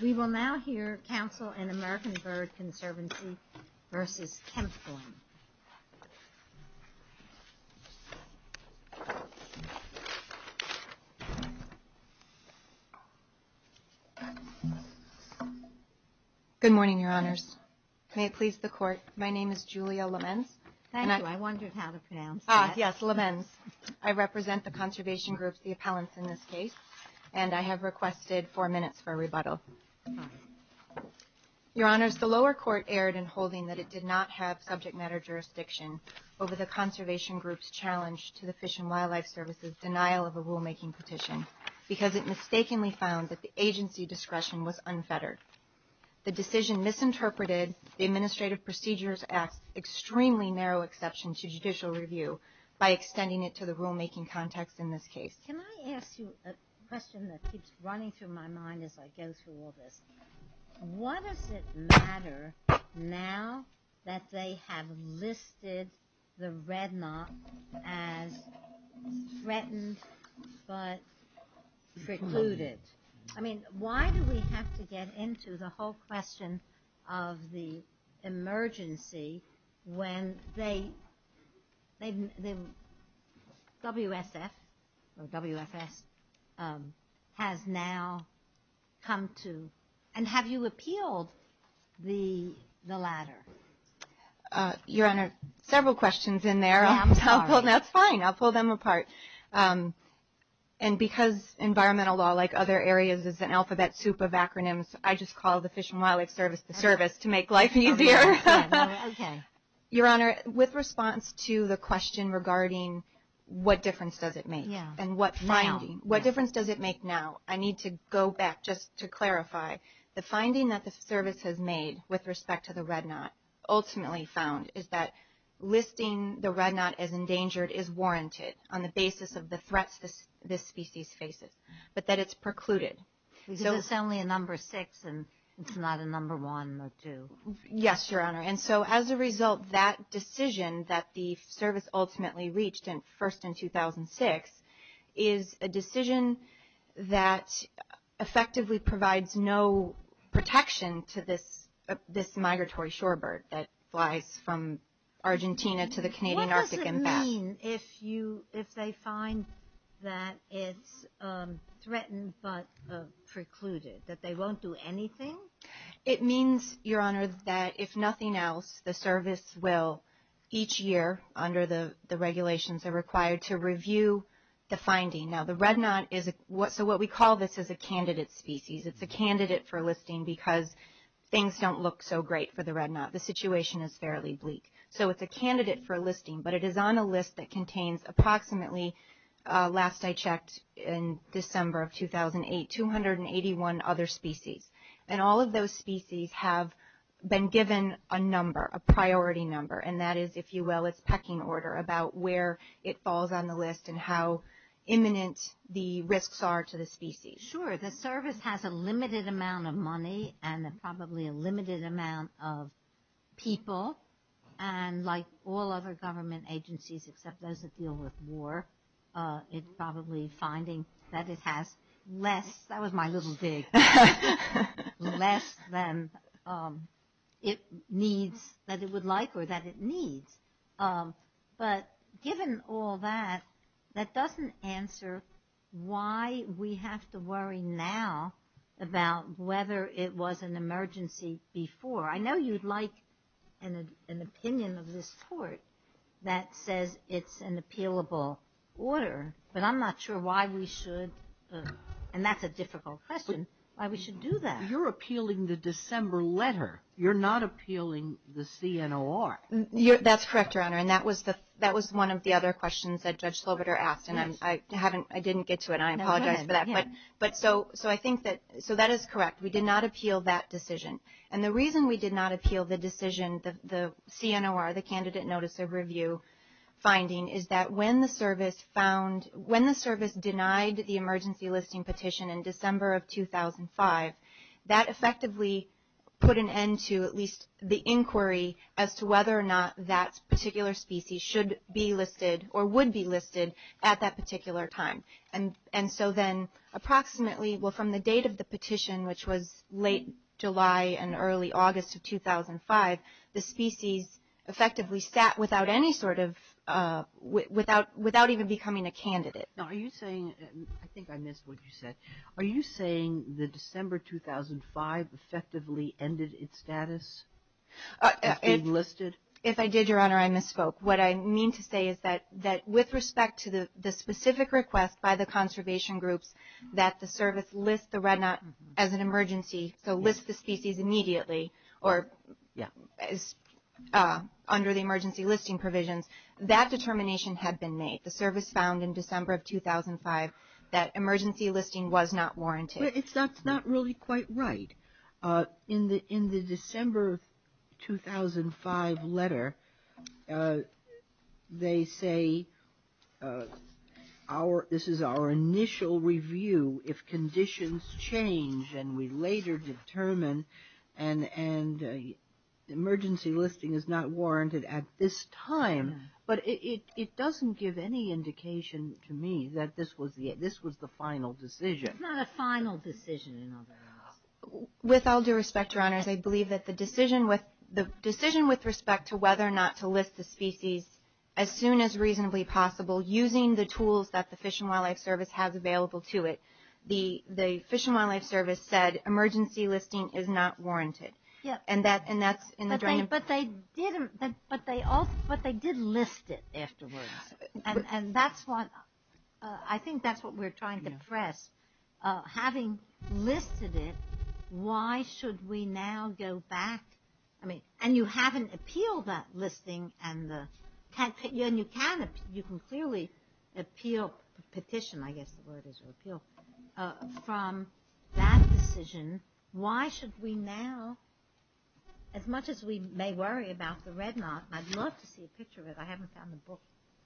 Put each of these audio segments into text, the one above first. We will now hear counsel in American Bird Conservancy v. Kempthorne. Good morning, Your Honors. May it please the Court, my name is Julia Lemenz. Thank you, I wondered how to pronounce that. Ah, yes, Lemenz. I represent the conservation group, the appellants in this case, and I have requested four minutes for a rebuttal. Your Honors, the lower court erred in holding that it did not have subject matter jurisdiction over the conservation group's challenge to the Fish and Wildlife Service's denial of a rulemaking petition because it mistakenly found that the agency discretion was unfettered. The decision misinterpreted the Administrative Procedures Act's extremely narrow exception to judicial review by extending it to the rulemaking context in this case. Can I ask you a question that keeps running through my mind as I go through all this? What does it matter now that they have listed the Red Knot as threatened but precluded? I mean, why do we have to get into the whole question of the emergency when they, WSF, WFS, has now come to, and have you appealed the latter? Your Honor, several questions in there. I'm sorry. That's fine, I'll pull them apart. And because environmental law, like other areas, is an alphabet soup of acronyms, I just call the Fish and Wildlife Service the service to make life easier. Okay. Your Honor, with response to the question regarding what difference does it make, and what difference does it make now, I need to go back just to clarify. The finding that the service has made with respect to the Red Knot, ultimately found, is that listing the Red Knot as endangered is warranted on the basis of the threats this species faces, but that it's precluded. Because it's only a number six and it's not a number one or two. Yes, Your Honor. And so as a result, that decision that the service ultimately reached first in 2006, is a decision that effectively provides no protection to this migratory shorebird that flies from Argentina to the Canadian Arctic and back. What does it mean if they find that it's threatened but precluded, that they won't do anything? It means, Your Honor, that if nothing else, the service will, each year, under the regulations, are required to review the finding. Now the Red Knot is a, so what we call this is a candidate species. It's a candidate for listing because things don't look so great for the Red Knot. The situation is fairly bleak. So it's a candidate for listing, but it is on a list that contains approximately, last I checked in December of 2008, 281 other species. And all of those species have been given a number, a priority number. And that is, if you will, it's pecking order about where it falls on the list and how imminent the risks are to the species. Sure. The service has a limited amount of money and probably a limited amount of people. And like all other government agencies, except those that deal with war, it's probably finding that it has less, that was my little dig, less than it needs, that it would like or that it needs. But given all that, that doesn't answer why we have to worry now about whether it was an emergency before. I know you'd like an opinion of this sort that says it's an appealable order, but I'm not sure why we should, and that's a difficult question, why we should do that. You're appealing the December letter. You're not appealing the CNOR. That's correct, Your Honor. And that was one of the other questions that Judge Slobiter asked, and I didn't get to it. I apologize for that. But so I think that, so that is correct. We did not appeal that decision. And the reason we did not appeal the decision, the CNOR, the Candidate Notice of Review finding, is that when the service denied the emergency listing petition in December of 2005, that effectively put an end to at least the inquiry as to whether or not that particular species should be listed or would be listed at that particular time. And so then approximately, well, from the date of the petition, which was late July and early August of 2005, the species effectively sat without any sort of, without even becoming a candidate. Now, are you saying, I think I missed what you said, are you saying that December 2005 effectively ended its status of being listed? If I did, Your Honor, I misspoke. What I mean to say is that with respect to the specific request by the conservation groups that the service list the red knot as an emergency, so list the species immediately or under the emergency listing provisions, that determination had been made. The service found in December of 2005 that emergency listing was not warranted. That's not really quite right. In the December 2005 letter, they say this is our initial review if conditions change and we later determine an emergency listing is not warranted at this time. But it doesn't give any indication to me that this was the final decision. It's not a final decision in other words. With all due respect, Your Honors, I believe that the decision with respect to whether or not to list the species as soon as reasonably possible using the tools that the Fish and Wildlife Service has available to it, the Fish and Wildlife Service said emergency listing is not warranted. And that's in the drain. But they did list it afterwards. I think that's what we're trying to address. Having listed it, why should we now go back? And you haven't appealed that listing and you can clearly appeal petition, I guess the word is, from that decision. Why should we now, as much as we may worry about the red knot, and I'd love to see a picture of it. I haven't found the book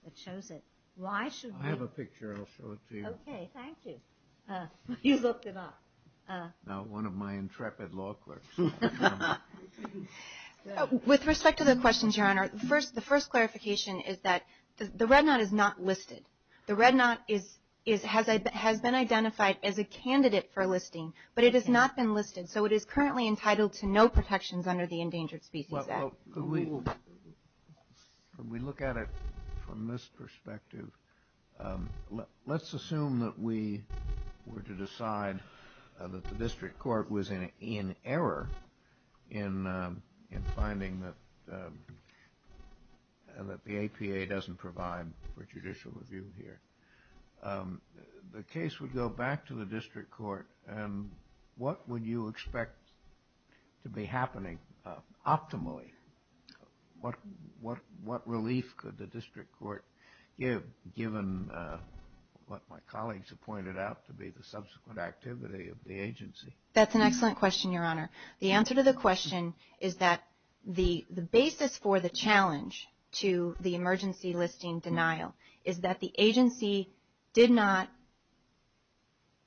that shows it. Why should we? I have a picture. I'll show it to you. Okay, thank you. You looked it up. Now one of my intrepid law clerks. With respect to the questions, Your Honor, the first clarification is that the red knot is not listed. The red knot has been identified as a candidate for listing, but it has not been listed. So it is currently entitled to no protections under the Endangered Species Act. Could we look at it from this perspective? Let's assume that we were to decide that the district court was in error in finding that the APA doesn't provide for judicial review here. The case would go back to the district court, and what would you expect to be happening optimally? What relief could the district court give given what my colleagues have pointed out to be the subsequent activity of the agency? That's an excellent question, Your Honor. The answer to the question is that the basis for the challenge to the emergency listing denial is that the agency did not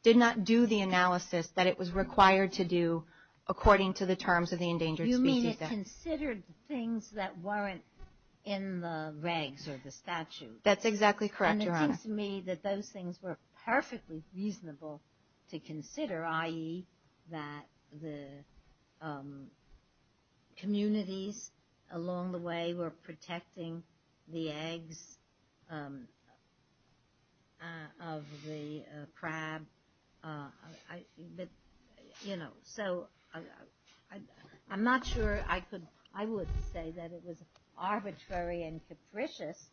do the analysis that it was required to do according to the terms of the Endangered Species Act. You mean it considered things that weren't in the regs or the statute. That's exactly correct, Your Honor. And it seems to me that those things were perfectly reasonable to consider, i.e., that the communities along the way were protecting the eggs of the crab. But, you know, so I'm not sure I would say that it was arbitrary and capricious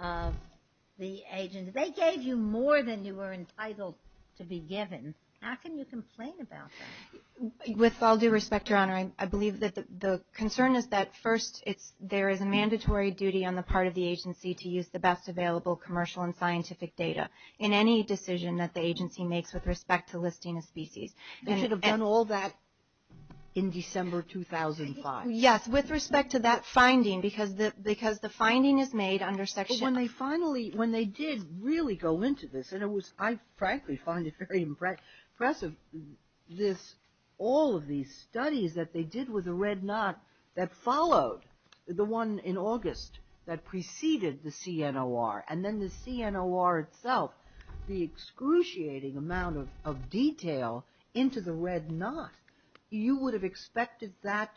of the agency. They gave you more than you were entitled to be given. How can you complain about that? With all due respect, Your Honor, I believe that the concern is that, first, there is a mandatory duty on the part of the agency to use the best available commercial and scientific data in any decision that the agency makes with respect to listing a species. They should have done all that in December 2005. Yes, with respect to that finding, because the finding is made under Section ______. When they did really go into this, and I frankly find it very impressive, all of these studies that they did with the red knot that followed, the one in August that preceded the CNOR, and then the CNOR itself, the excruciating amount of detail into the red knot, you would have expected that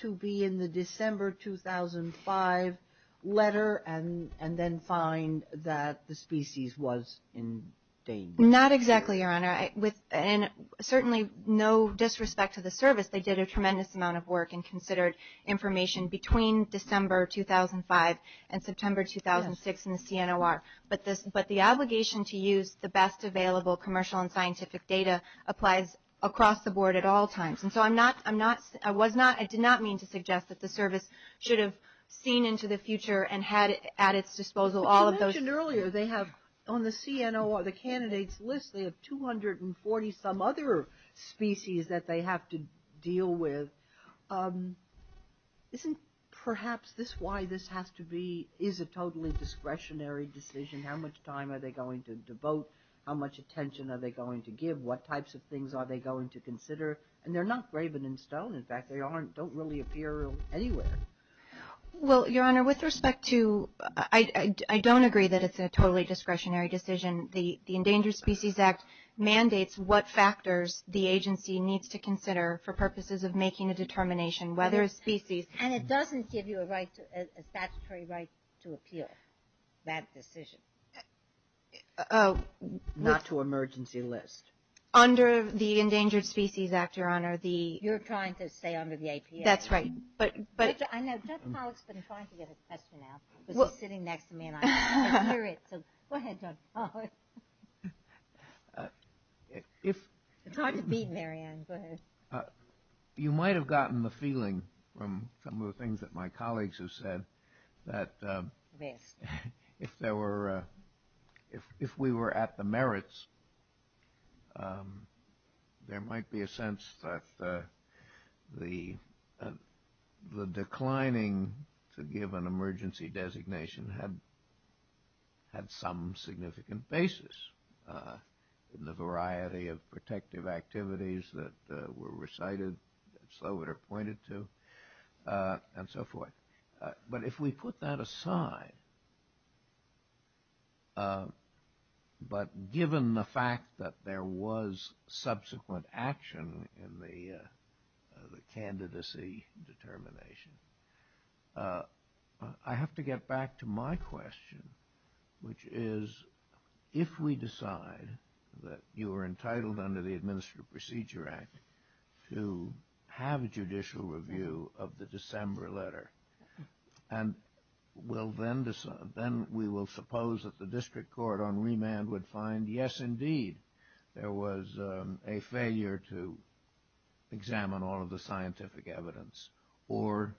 to be in the December 2005 letter and then find that the species was in danger. Not exactly, Your Honor. And certainly, no disrespect to the service, they did a tremendous amount of work and considered information between December 2005 and September 2006 in the CNOR. But the obligation to use the best available commercial and scientific data applies across the board at all times. And so I'm not, I was not, I did not mean to suggest that the service should have seen into the future and had at its disposal all of those. But you mentioned earlier they have, on the CNOR, the candidates list, they have 240 some other species that they have to deal with. Isn't perhaps this why this has to be, is a totally discretionary decision? How much time are they going to devote? How much attention are they going to give? What types of things are they going to consider? And they're not graven in stone. In fact, they aren't, don't really appear anywhere. Well, Your Honor, with respect to, I don't agree that it's a totally discretionary decision. The Endangered Species Act mandates what factors the agency needs to consider for purposes of making a determination whether a species. And it doesn't give you a right, a statutory right to appeal that decision. Not to emergency list. Under the Endangered Species Act, Your Honor, the. You're trying to stay under the APA. That's right, but. I know, Judge Pollack's been trying to get his question out. He's sitting next to me and I can't hear it. So go ahead, Judge Pollack. If. It's hard to beat Marianne, go ahead. You might have gotten the feeling from some of the things that my colleagues have said that. Yes. If there were. If we were at the merits. There might be a sense that the. The declining to give an emergency designation had. Had some significant basis in the variety of protective activities that were recited. So it are pointed to and so forth. But if we put that aside. But given the fact that there was subsequent action in the candidacy determination. I have to get back to my question, which is. If we decide that you are entitled under the Administrative Procedure Act. To have a judicial review of the December letter. And we'll then decide. Then we will suppose that the district court on remand would find. Yes, indeed. There was a failure to examine all of the scientific evidence. Or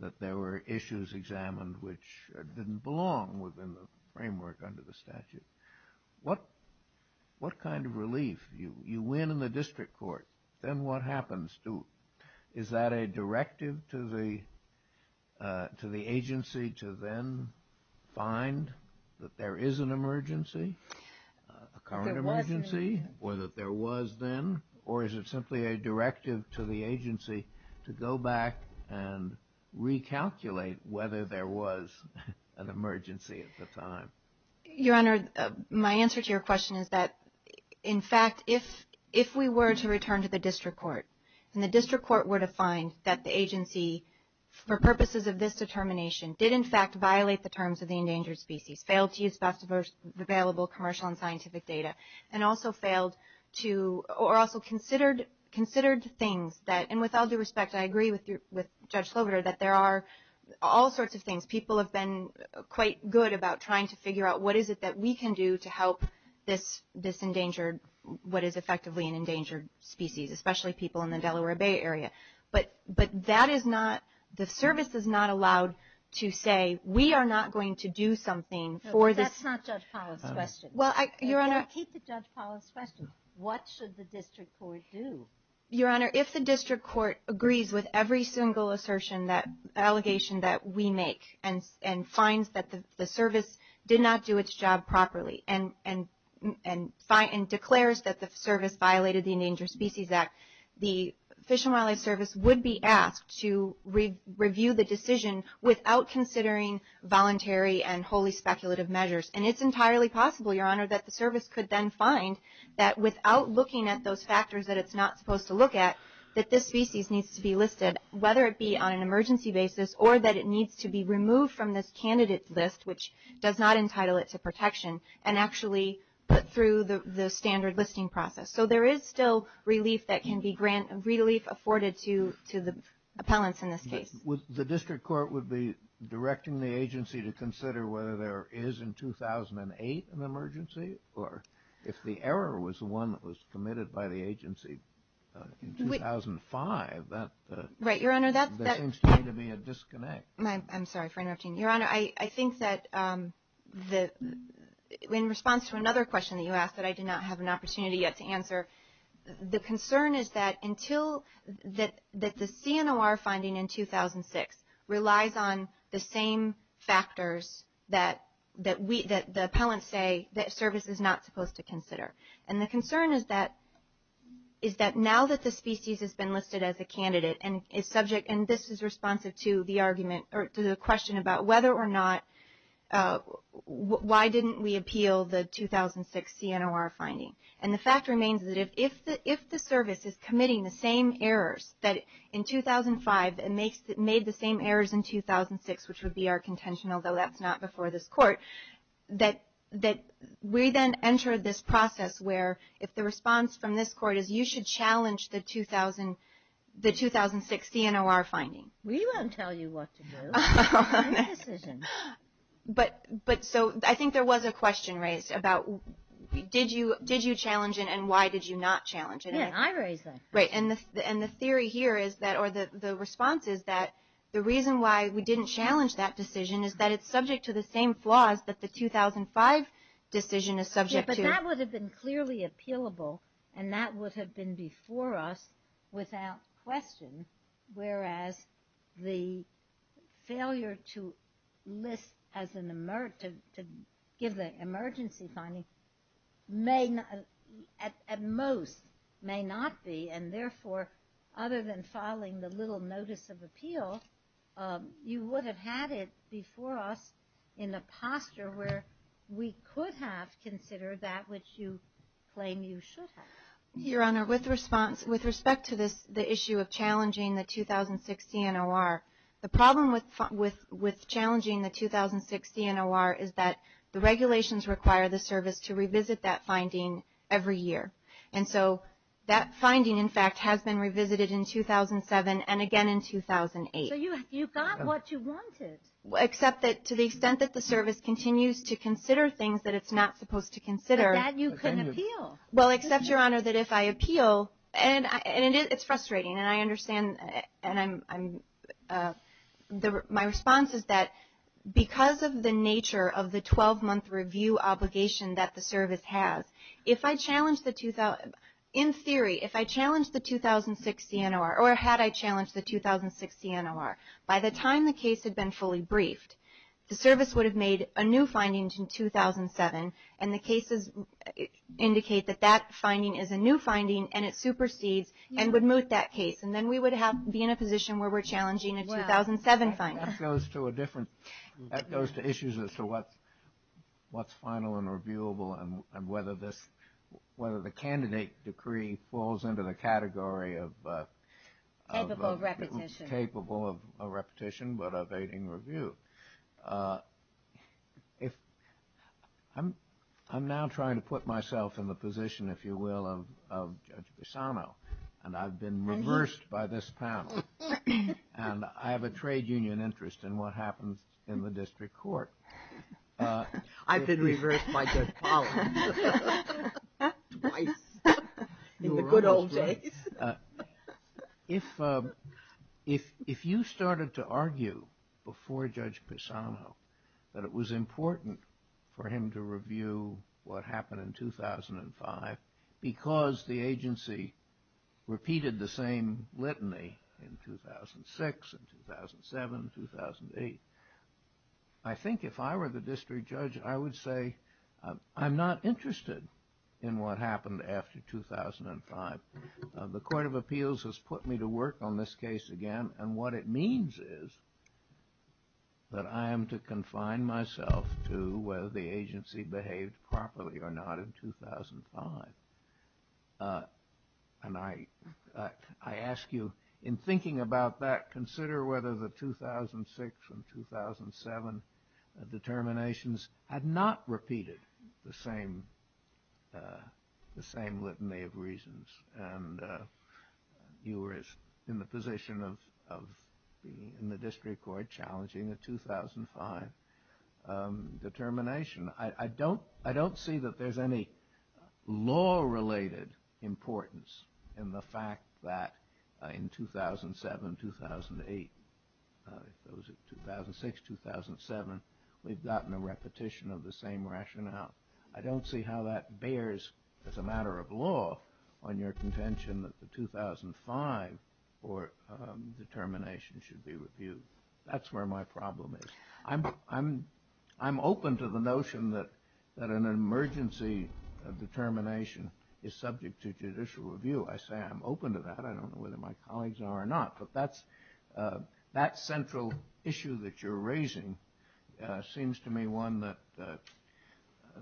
that there were issues examined which didn't belong within the framework under the statute. What. What kind of relief. You win in the district court. Then what happens to. Is that a directive to the. To the agency to then find that there is an emergency. A current emergency. Whether there was then. Or is it simply a directive to the agency to go back. And recalculate whether there was an emergency at the time. Your Honor. My answer to your question is that. In fact, if. If we were to return to the district court. And the district court were to find that the agency. For purposes of this determination. Did in fact violate the terms of the endangered species. Failed to use best available commercial and scientific data. And also failed to. Or also considered. Considered things that. And with all due respect. I agree with you. With Judge Slover. That there are. All sorts of things. People have been. Quite good about trying to figure out. What is it that we can do to help. This. This endangered. What is effectively an endangered species. Especially people in the Delaware Bay area. But. But that is not. The service is not allowed. To say. We are not going to do something. For this. That's not Judge Pollack's question. Well. Your Honor. Keep the Judge Pollack's question. What should the district court do? Your Honor. If the district court agrees with every single assertion. That allegation that we make. And finds that the service. Did not do its job properly. And. And. And declares that the service violated the Endangered Species Act. The Fish and Wildlife Service would be asked. To review the decision. Without considering voluntary. And wholly speculative measures. And it's entirely possible. Your Honor. That the service could then find. That without looking at those factors. That it's not supposed to look at. That this species needs to be listed. Whether it be on an emergency basis. Or that it needs to be removed from this candidate list. Which does not entitle it to protection. And actually put through the standard listing process. So there is still relief that can be granted. Relief afforded to the appellants in this case. The district court would be directing the agency. To consider whether there is in 2008 an emergency. Or if the error was the one that was committed by the agency. In 2005. That seems to me to be a disconnect. I'm sorry for interrupting. Your Honor. I think that in response to another question that you asked. That I did not have an opportunity yet to answer. The concern is that until. That the CNOR finding in 2006. Relies on the same factors. That the appellants say. That service is not supposed to consider. And the concern is that. Is that now that the species has been listed as a candidate. And is subject. And this is responsive to the argument. Or to the question about whether or not. Why didn't we appeal the 2006 CNOR finding? And the fact remains. That if the service is committing the same errors. That in 2005. It made the same errors in 2006. Which would be our contention. Although that's not before this court. That we then enter this process. Where if the response from this court is. You should challenge the 2006 CNOR finding. We won't tell you what to do. But so I think there was a question raised about. Did you challenge it? And why did you not challenge it? I raised that. Right. And the theory here is that. Or the response is that. The reason why we didn't challenge that decision. Is that it's subject to the same flaws. That the 2005 decision is subject to. That would have been clearly appealable. And that would have been before us. Without question. Whereas the failure to list. To give the emergency finding. At most may not be. And therefore. Other than filing the little notice of appeal. You would have had it before us. In a posture where. We could have considered that. Which you claim you should have. Your Honor. With response. With respect to this. The issue of challenging the 2006 CNOR. The problem with challenging the 2006 CNOR. Is that the regulations require the service. To revisit that finding every year. And so that finding in fact. Has been revisited in 2007. And again in 2008. So you got what you wanted. Except that to the extent that the service. Continues to consider things that it's not supposed to consider. That you couldn't appeal. Well except Your Honor. That if I appeal. And it's frustrating. And I understand. And I'm. My response is that. Because of the nature of the 12 month review obligation. That the service has. If I challenge the 2000. In theory. If I challenge the 2006 CNOR. Or had I challenged the 2006 CNOR. By the time the case had been fully briefed. The service would have made a new finding in 2007. And the cases. Indicate that that finding is a new finding. And it supersedes. And would moot that case. And then we would have. Be in a position where we're challenging a 2007 finding. That goes to a different. That goes to issues as to what. What's final and reviewable. And whether this. Whether the candidate decree. Falls into the category of. Capable repetition. Capable of a repetition. But evading review. If. I'm. I'm now trying to put myself in the position. If you will. Of Judge Pisano. And I've been reversed by this panel. And I have a trade union interest in what happens. In the district court. I've been reversed by Judge Pollan. Twice. In the good old days. If. If. If you started to argue. Before Judge Pisano. That it was important. For him to review. What happened in 2005. Because the agency. Repeated the same litany. In 2006 and 2007. 2008. I think if I were the district judge. I would say. I'm not interested. In what happened after 2005. The court of appeals has put me to work on this case again. And what it means is. That I am to confine myself. To whether the agency behaved properly or not in 2005. And I. I ask you. In thinking about that. Consider whether the 2006 and 2007. Determinations. Had not repeated. The same. The same litany of reasons. And. You were. In the position of. Being in the district court. Challenging the 2005. Determination. I don't. I don't see that there's any. Law related. Importance. In the fact. That. In 2007. 2008. 2006. 2007. We've gotten a repetition of the same rationale. I don't see how that bears. As a matter of law. On your contention. That the 2005. Or. Determination should be reviewed. That's where my problem is. I'm. I'm. I'm open to the notion that. That an emergency. Determination. Is subject to judicial review. I say I'm open to that. I don't know whether my colleagues are or not. But that's. That central. Issue that you're raising. Seems to me one that.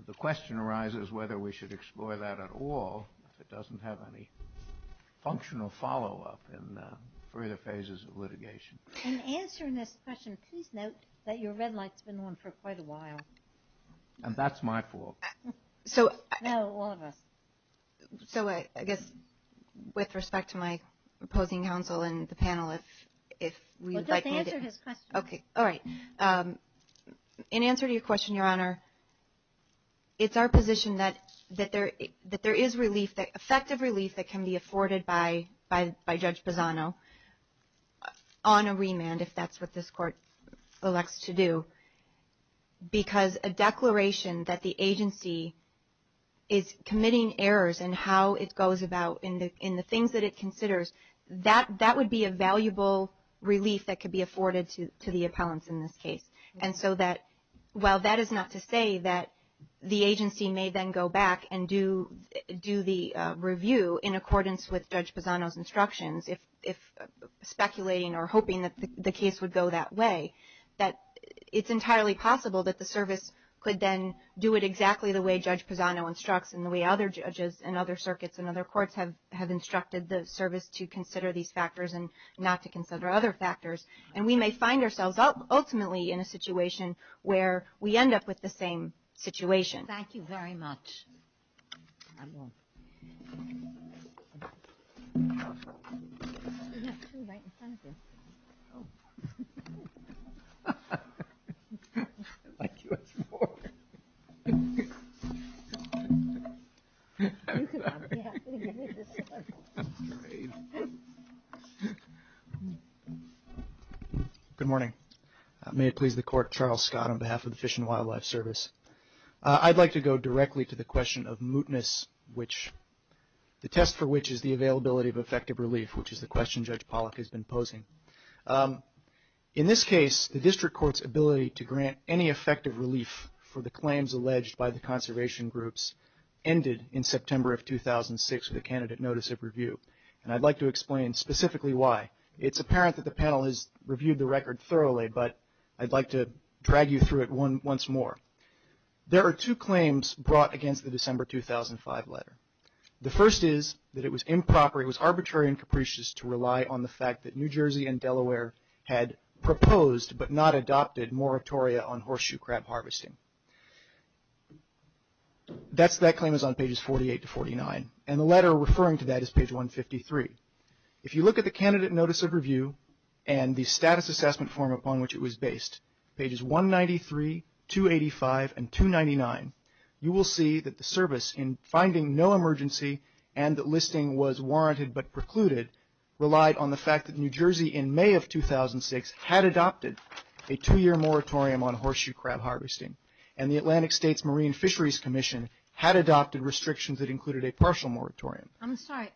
The question arises whether we should explore that at all. If it doesn't have any. Functional follow-up. In further phases of litigation. In answering this question. Please note. That your red light's been on for quite a while. And that's my fault. So. No. All of us. So. I guess. With respect to my. Opposing counsel. And the panel. If. If. We'd like. To answer his question. Okay. All right. In answer to your question. Your honor. It's our position that. That there. That there is relief. Effective relief. That can be afforded by. By. By Judge Bozzano. On a remand. If that's what this court. Elects to do. Because a declaration. That the agency. Is committing errors. And how it goes about. In the in the things that it considers. That that would be a valuable. Relief that could be afforded to the appellants in this case. And so that. Well that is not to say that. The agency may then go back. And do. Do the. Review. In accordance with Judge Bozzano's instructions. If. If. Speculating or hoping that the case would go that way. That. It's entirely possible that the service. Could then. Do it exactly the way Judge Bozzano instructs. And the way other judges. And other circuits. And other courts have. Have instructed the service to consider these factors. And not to consider other factors. And we may find ourselves. Ultimately in a situation. Where. We end up with the same. Situation. Thank you very much. Good morning. May it please the court. Charles Scott. On behalf of the Fish and Wildlife Service. I'd like to go directly to the question of mootness. Which. The test for which is the availability of effective relief. Which is the question Judge Pollack has been posing. In this case. The district court's ability to grant any effective relief. For the claims alleged by the conservation groups. Ended in September of 2006. With a candidate notice of review. And I'd like to explain specifically why. It's apparent that the panel has reviewed the record thoroughly. But. I'd like to drag you through it once more. There are two claims brought against the December 2005 letter. The first is. That it was improper. It was arbitrary and capricious. To rely on the fact that New Jersey and Delaware. Had proposed. But not adopted moratoria on horseshoe crab harvesting. That claim is on pages 48 to 49. And the letter referring to that is page 153. If you look at the candidate notice of review. And the status assessment form upon which it was based. Pages 193, 285 and 299. You will see that the service in finding no emergency. And that listing was warranted but precluded. Relied on the fact that New Jersey in May of 2006. Had adopted a two year moratorium on horseshoe crab harvesting. And the Atlantic States Marine Fisheries Commission. Had adopted restrictions that included a partial moratorium. I'm sorry.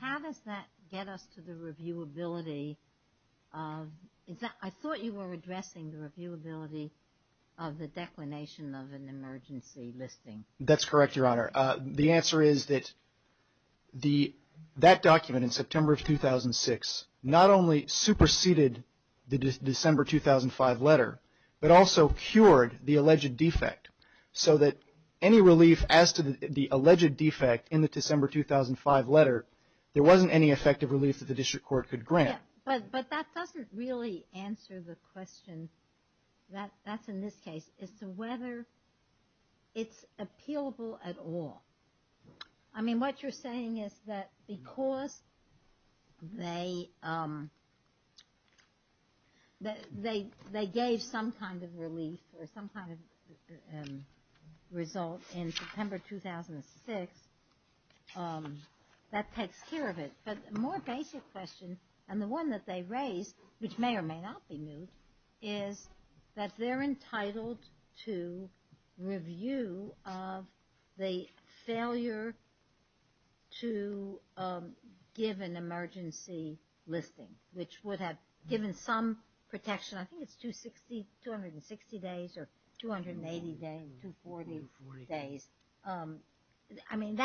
How does that get us to the reviewability. I thought you were addressing the reviewability. Of the declination of an emergency listing. That's correct your honor. The answer is that. That document in September of 2006. Not only superseded the December 2005 letter. But also cured the alleged defect. So that any relief as to the alleged defect. In the December 2005 letter. There wasn't any effective relief that the district court could grant. But that doesn't really answer the question. That's in this case. As to whether it's appealable at all. I mean what you're saying is that. Because they. They gave some kind of relief. Or some kind of result in September 2006. That takes care of it. But a more basic question. And the one that they raised. Which may or may not be new. Is that they're entitled to. Review of the failure. To give an emergency listing. Which would have given some protection. I think it's 260 days. Or 280 days. 240 days. I mean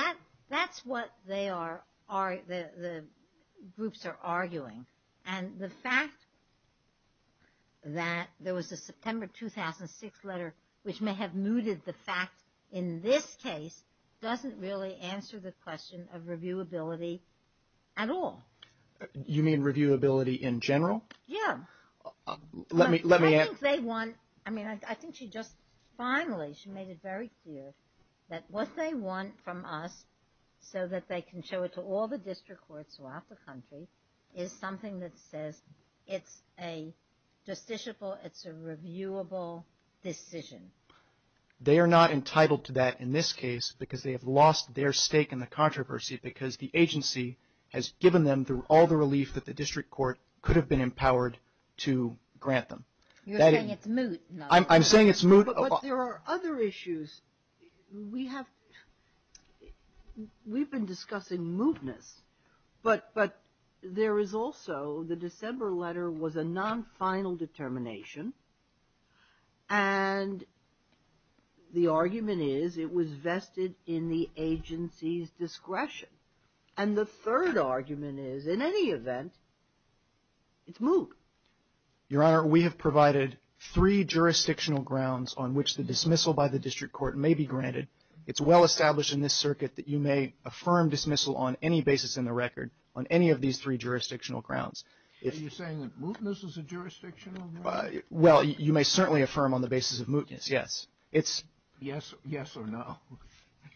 that's what they are. The groups are arguing. And the fact. That there was a September 2006 letter. Which may have mooted the fact. In this case. Doesn't really answer the question of reviewability. At all. You mean reviewability in general. Yeah. Let me. I think they want. I mean I think she just finally. She made it very clear. That what they want from us. So that they can show it to all the district courts throughout the country. Is something that says. It's a justiciable. It's a reviewable decision. They are not entitled to that in this case. Because they have lost their stake in the controversy. Because the agency. Has given them through all the relief that the district court. Could have been empowered. To grant them. You're saying it's moot. I'm saying it's moot. But there are other issues. We have. We've been discussing mootness. But there is also the December letter was a non-final determination. And. The argument is it was vested in the agency's discretion. And the third argument is in any event. It's moot. Your Honor. We have provided. Three jurisdictional grounds on which the dismissal by the district court. May be granted. It's well established in this circuit that you may. Affirm dismissal on any basis in the record. On any of these three jurisdictional grounds. If you're saying that mootness is a jurisdiction. Well you may certainly affirm on the basis of mootness. Yes. It's yes. Yes or no.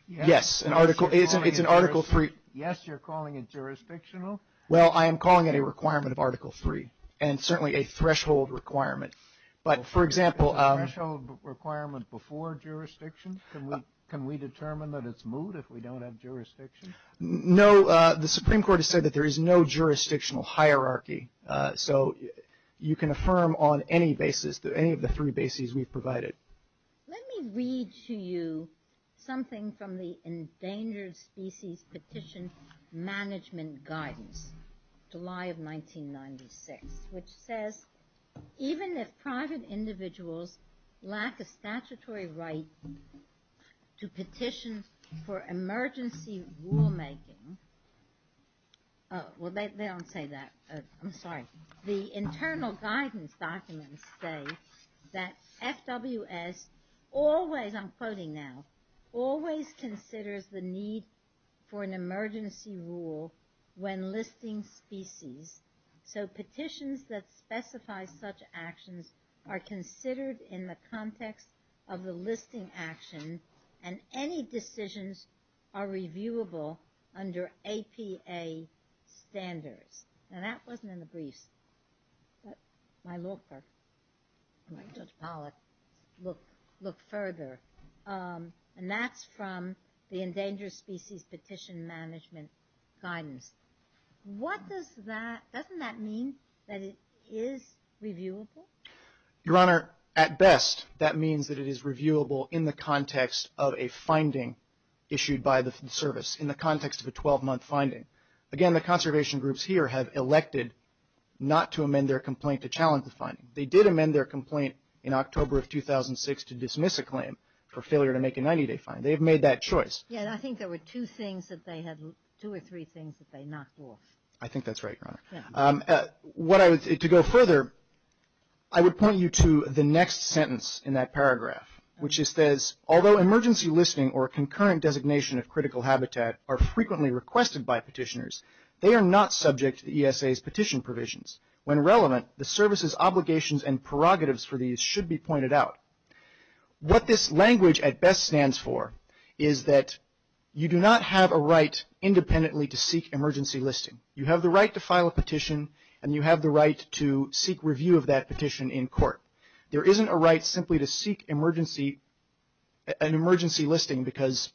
Yes. An article. It's an article three. Yes. You're calling it jurisdictional. Well I am calling it a requirement of article three. And certainly a threshold requirement. But for example. Requirement before jurisdiction. Can we determine that it's moot if we don't have jurisdiction. No. The Supreme Court has said that there is no jurisdictional hierarchy. So you can affirm on any basis that any of the three bases we've provided. Let me read to you. Something from the endangered species petition management guidance. July of 1996. Which says. Even if private individuals. Lack a statutory right. To petition for emergency rulemaking. Well they don't say that. I'm sorry. The internal guidance documents say. That FWS always. I'm quoting now. Always considers the need for an emergency rule. When listing species. So petitions that specify such actions. Are considered in the context of the listing action. And any decisions are reviewable under APA standards. Now that wasn't in the briefs. My looker. Judge Pollack. Look further. And that's from the endangered species petition management guidance. What does that. Doesn't that mean. That it is reviewable. Your Honor. At best. That means that it is reviewable in the context of a finding. Issued by the service. In the context of a 12 month finding. Again the conservation groups here have elected. Not to amend their complaint to challenge the finding. They did amend their complaint. In October of 2006 to dismiss a claim. For failure to make a 90 day fine. They've made that choice. Yeah I think there were two things that they had. Two or three things that they knocked off. I think that's right. Your Honor. What I would say to go further. I would point you to the next sentence in that paragraph. Which is says. Although emergency listing or concurrent designation of critical habitat. Are frequently requested by petitioners. They are not subject to the ESA's petition provisions. When relevant. The service's obligations and prerogatives for these should be pointed out. What this language at best stands for. Is that you do not have a right independently to seek emergency listing. You have the right to file a petition. And you have the right to seek review of that petition in court. There isn't a right simply to seek emergency. An emergency listing because.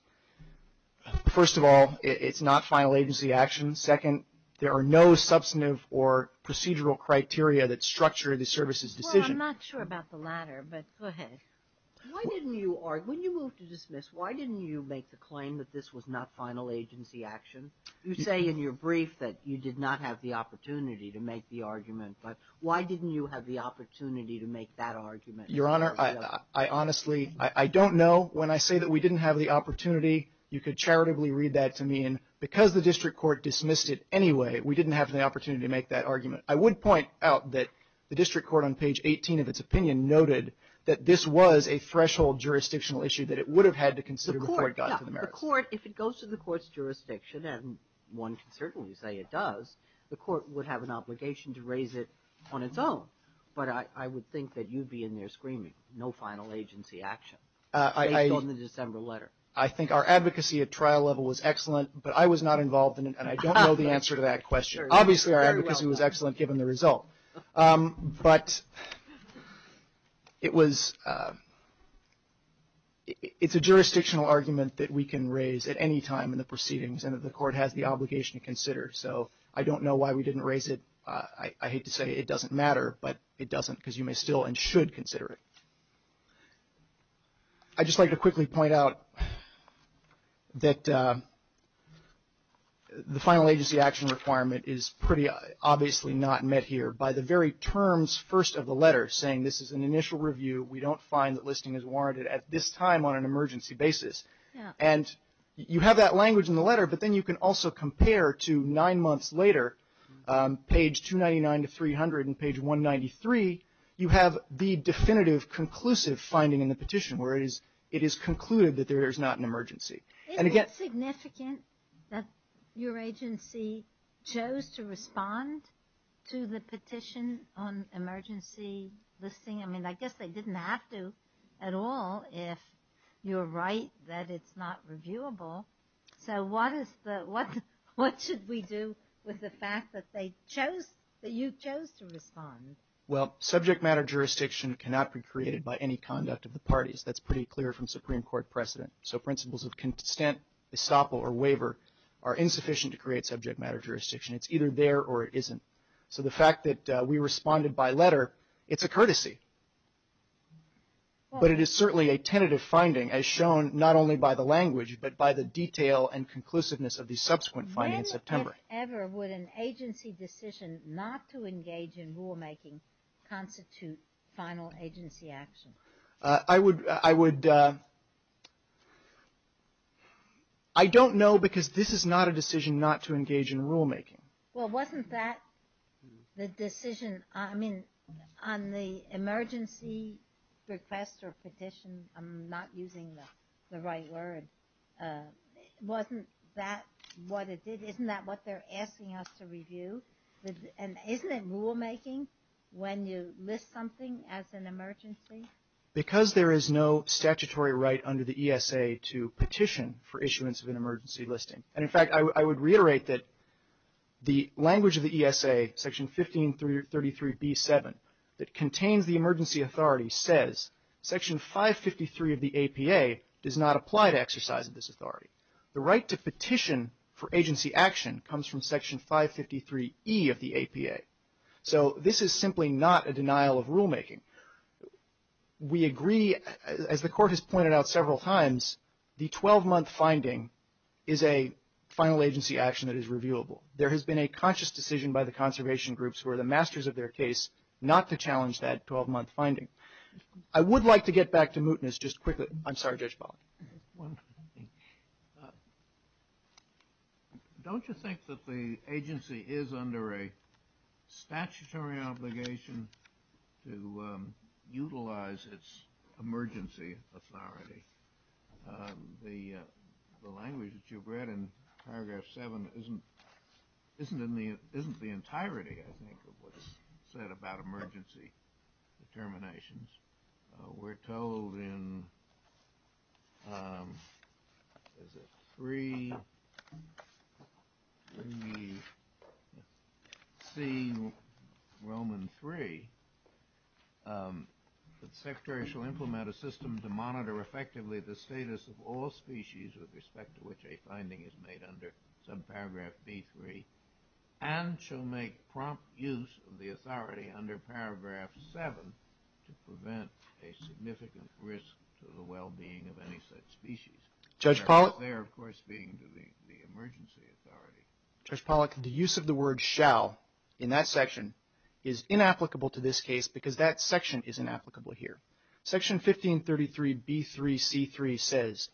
First of all. It's not final agency action. Second. There are no substantive or procedural criteria that structure the service's decision. Well I'm not sure about the latter. But go ahead. Why didn't you. When you moved to dismiss. Why didn't you make the claim that this was not final agency action. You say in your brief that you did not have the opportunity to make the argument. But why didn't you have the opportunity to make that argument. Your Honor. I honestly. I don't know. When I say that we didn't have the opportunity. You could charitably read that to me. And because the district court dismissed it anyway. We didn't have the opportunity to make that argument. I would point out that the district court on page 18 of its opinion noted. That this was a threshold jurisdictional issue. That it would have had to consider before it got to the merits. The court. If it goes to the court's jurisdiction. And one can certainly say it does. The court would have an obligation to raise it on its own. But I would think that you'd be in there screaming. No final agency action. Based on the December letter. I think our advocacy at trial level was excellent. But I was not involved in it. And I don't know the answer to that question. Obviously our advocacy was excellent given the result. But it was. It's a jurisdictional argument that we can raise at any time in the proceedings. And that the court has the obligation to consider. So I don't know why we didn't raise it. I hate to say it doesn't matter. But it doesn't. Because you may still and should consider it. I'd just like to quickly point out. That the final agency action requirement is pretty obviously not met here. By the very terms first of the letter. Saying this is an initial review. We don't find that listing is warranted at this time on an emergency basis. And you have that language in the letter. But then you can also compare to nine months later. Page 299 to 300. And page 193. You have the definitive conclusive finding in the petition. Where it is concluded that there is not an emergency. Isn't it significant that your agency chose to respond to the petition on emergency listing? I mean I guess they didn't have to at all. If you're right that it's not reviewable. So what should we do with the fact that you chose to respond? Well, subject matter jurisdiction cannot be created by any conduct of the parties. That's pretty clear from Supreme Court precedent. So principles of consent, estoppel or waiver are insufficient to create subject matter jurisdiction. It's either there or it isn't. So the fact that we responded by letter, it's a courtesy. But it is certainly a tentative finding. As shown not only by the language. But by the detail and conclusiveness of the subsequent finding in September. Whatever would an agency decision not to engage in rulemaking constitute final agency action? I would, I don't know because this is not a decision not to engage in rulemaking. Well wasn't that the decision, I mean on the emergency request or petition, I'm not using the right word. Wasn't that what it did? Isn't that what they're asking us to review? And isn't it rulemaking when you list something as an emergency? Because there is no statutory right under the ESA to petition for issuance of an emergency listing. And in fact I would reiterate that the language of the ESA, Section 1533B-7, that contains the emergency authority says Section 553 of the APA does not apply to exercise of this authority. The right to petition for agency action comes from Section 553E of the APA. So this is simply not a denial of rulemaking. We agree, as the Court has pointed out several times, the 12-month finding is a final agency action that is reviewable. There has been a conscious decision by the conservation groups who are the masters of their case not to challenge that 12-month finding. I would like to get back to mootness just quickly. I'm sorry, Judge Pollack. Don't you think that the agency is under a statutory obligation to utilize its emergency authority? The language that you've read in Paragraph 7 isn't the entirety, I think, of what is said about emergency determinations. We're told in 3 C, Roman 3, that the Secretary shall implement a system to monitor effectively the status of all species with respect to which a finding is made under subparagraph B-3, and shall make prompt use of the authority under Paragraph 7 to prevent a significant risk to the well-being of any such species. There, of course, being the emergency authority. Judge Pollack, the use of the word shall in that section is inapplicable to this case because that section is inapplicable here. Section 1533 B-3 C-3 says,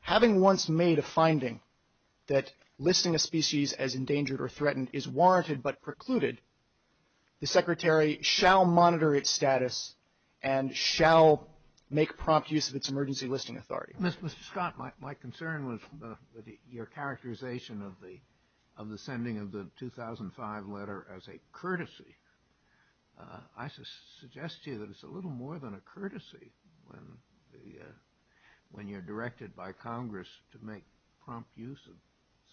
having once made a finding that listing a species as endangered or threatened is warranted but precluded, the Secretary shall monitor its status and shall make prompt use of its emergency listing authority. Mr. Scott, my concern was your characterization of the sending of the 2005 letter as a courtesy. I suggest to you that it's a little more than a courtesy when you're directed by Congress to make prompt use of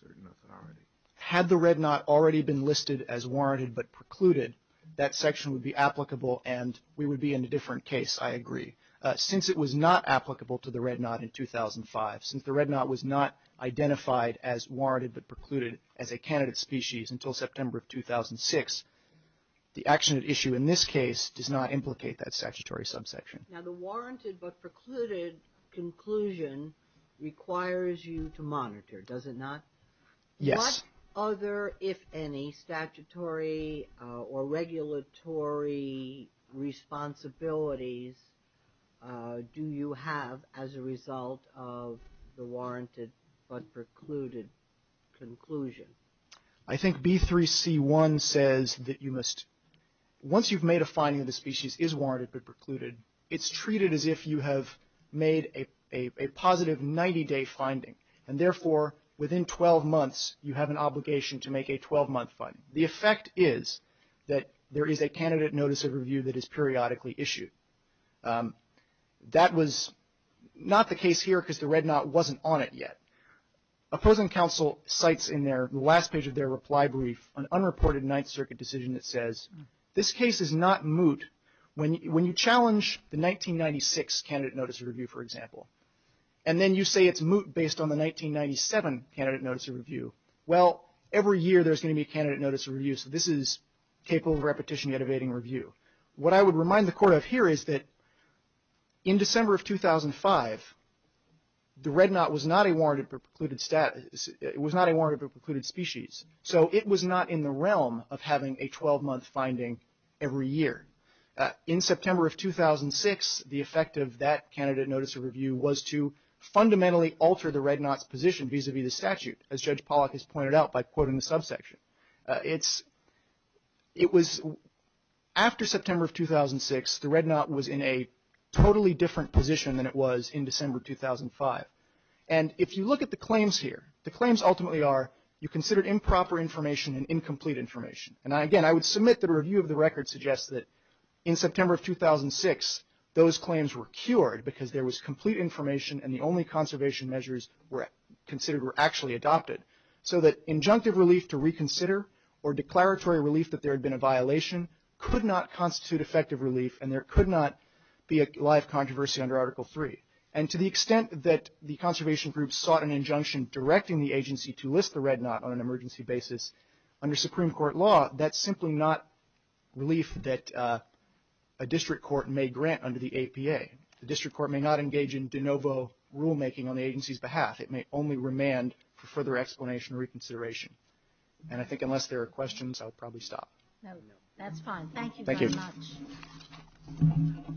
certain authority. Had the red knot already been listed as warranted but precluded, that section would be applicable and we would be in a different case, I agree. Since it was not applicable to the red knot in 2005, since the red knot was not identified as warranted but precluded as a candidate species until September of 2006, the action at issue in this case does not implicate that statutory subsection. Now, the warranted but precluded conclusion requires you to monitor, does it not? Yes. What other, if any, statutory or regulatory responsibilities do you have as a result of the warranted but precluded conclusion? I think B3C1 says that you must, once you've made a finding that a species is warranted but precluded, it's treated as if you have made a positive 90-day finding, and therefore, within 12 months, you have an obligation to make a 12-month finding. The effect is that there is a candidate notice of review that is periodically issued. That was not the case here because the red knot wasn't on it yet. Opposing counsel cites in their last page of their reply brief an unreported Ninth Circuit decision that says, this case is not moot. When you challenge the 1996 candidate notice of review, for example, and then you say it's moot based on the 1997 candidate notice of review, well, every year there's going to be a candidate notice of review, so this is capable of repetition yet evading review. What I would remind the Court of here is that in December of 2005, the red knot was not a warranted but precluded species, so it was not in the realm of having a 12-month finding every year. In September of 2006, the effect of that candidate notice of review was to fundamentally alter the red knot's position vis-à-vis the statute, as Judge Pollack has pointed out by quoting the subsection. After September of 2006, the red knot was in a totally different position than it was in December of 2005. If you look at the claims here, the claims ultimately are you considered improper information and incomplete information. Again, I would submit that a review of the record suggests that in September of 2006, those claims were cured because there was complete information and the only conservation measures considered were actually adopted, so that injunctive relief to reconsider or declaratory relief that there had been a violation could not constitute effective relief and there could not be a live controversy under Article III. And to the extent that the conservation groups sought an injunction directing the agency to list the red knot on an emergency basis, under Supreme Court law, that's simply not relief that a district court may grant under the APA. The district court may not engage in de novo rulemaking on the agency's behalf. It may only remand for further explanation or reconsideration. And I think unless there are questions, I'll probably stop. No, that's fine. Thank you very much. Thank you.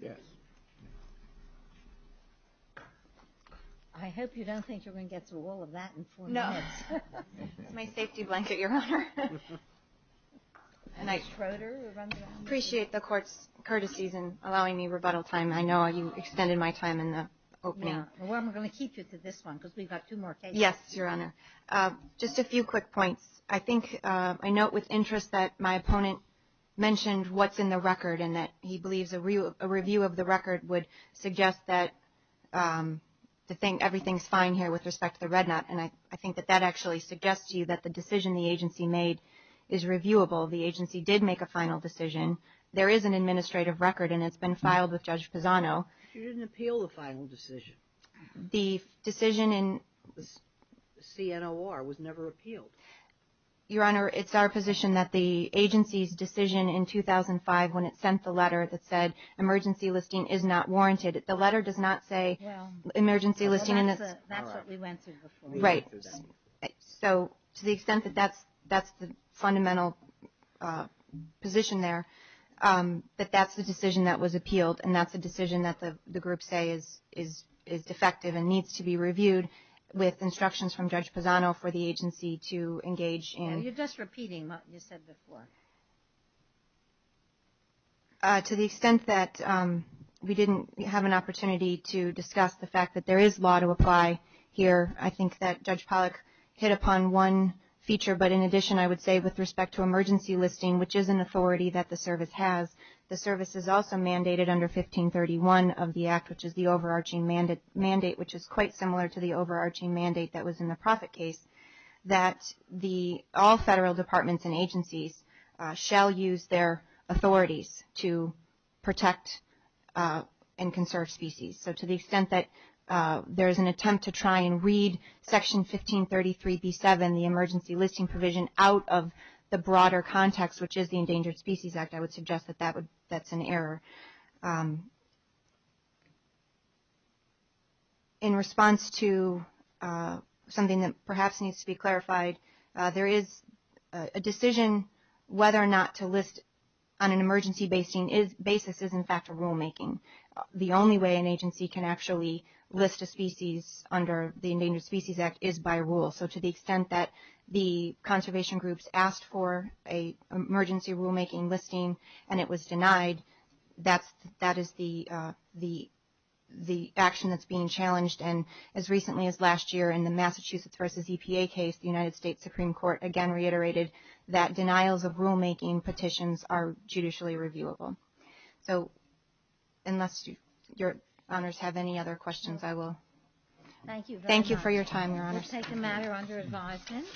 Yes. I hope you don't think you're going to get to all of that in four minutes. No. It's my safety blanket, Your Honor. Ms. Schroeder, we're running out of time. I appreciate the court's courtesies in allowing me rebuttal time. I know you extended my time in the opening. Well, I'm going to keep you to this one because we've got two more cases. Yes, Your Honor. Just a few quick points. I think I note with interest that my opponent mentioned what's in the record and that he believes a review of the record would suggest that everything's fine here with respect to the red knot. And I think that that actually suggests to you that the decision the agency made is reviewable. The agency did make a final decision. There is an administrative record, and it's been filed with Judge Pisano. She didn't appeal the final decision. The decision in the CNOR was never appealed. Your Honor, it's our position that the agency's decision in 2005 when it sent the letter that said, emergency listing is not warranted, the letter does not say emergency listing. That's what we went to. Right. So to the extent that that's the fundamental position there, that that's the decision that was appealed, and that's a decision that the groups say is defective and needs to be reviewed with instructions from Judge Pisano for the agency to engage in. You're just repeating what you said before. To the extent that we didn't have an opportunity to discuss the fact that there is law to apply here, I think that Judge Pollack hit upon one feature. But in addition, I would say with respect to emergency listing, which is an authority that the service has, the service is also mandated under 1531 of the Act, which is the overarching mandate, which is quite similar to the overarching mandate that was in the profit case, that all federal departments and agencies shall use their authorities to protect and conserve species. So to the extent that there is an attempt to try and read Section 1533B7, the emergency listing provision, out of the broader context, which is the Endangered Species Act, I would suggest that that's an error. In response to something that perhaps needs to be clarified, there is a decision whether or not to list on an emergency basis is, in fact, a rulemaking. The only way an agency can actually list a species under the Endangered Species Act is by rule. So to the extent that the conservation groups asked for an emergency rulemaking listing and it was denied, that is the action that's being challenged. And as recently as last year in the Massachusetts v. EPA case, the United States Supreme Court again reiterated that denials of rulemaking petitions are judicially reviewable. So unless your Honors have any other questions, I will thank you for your time, Your Honors. We'll take a matter under advisement.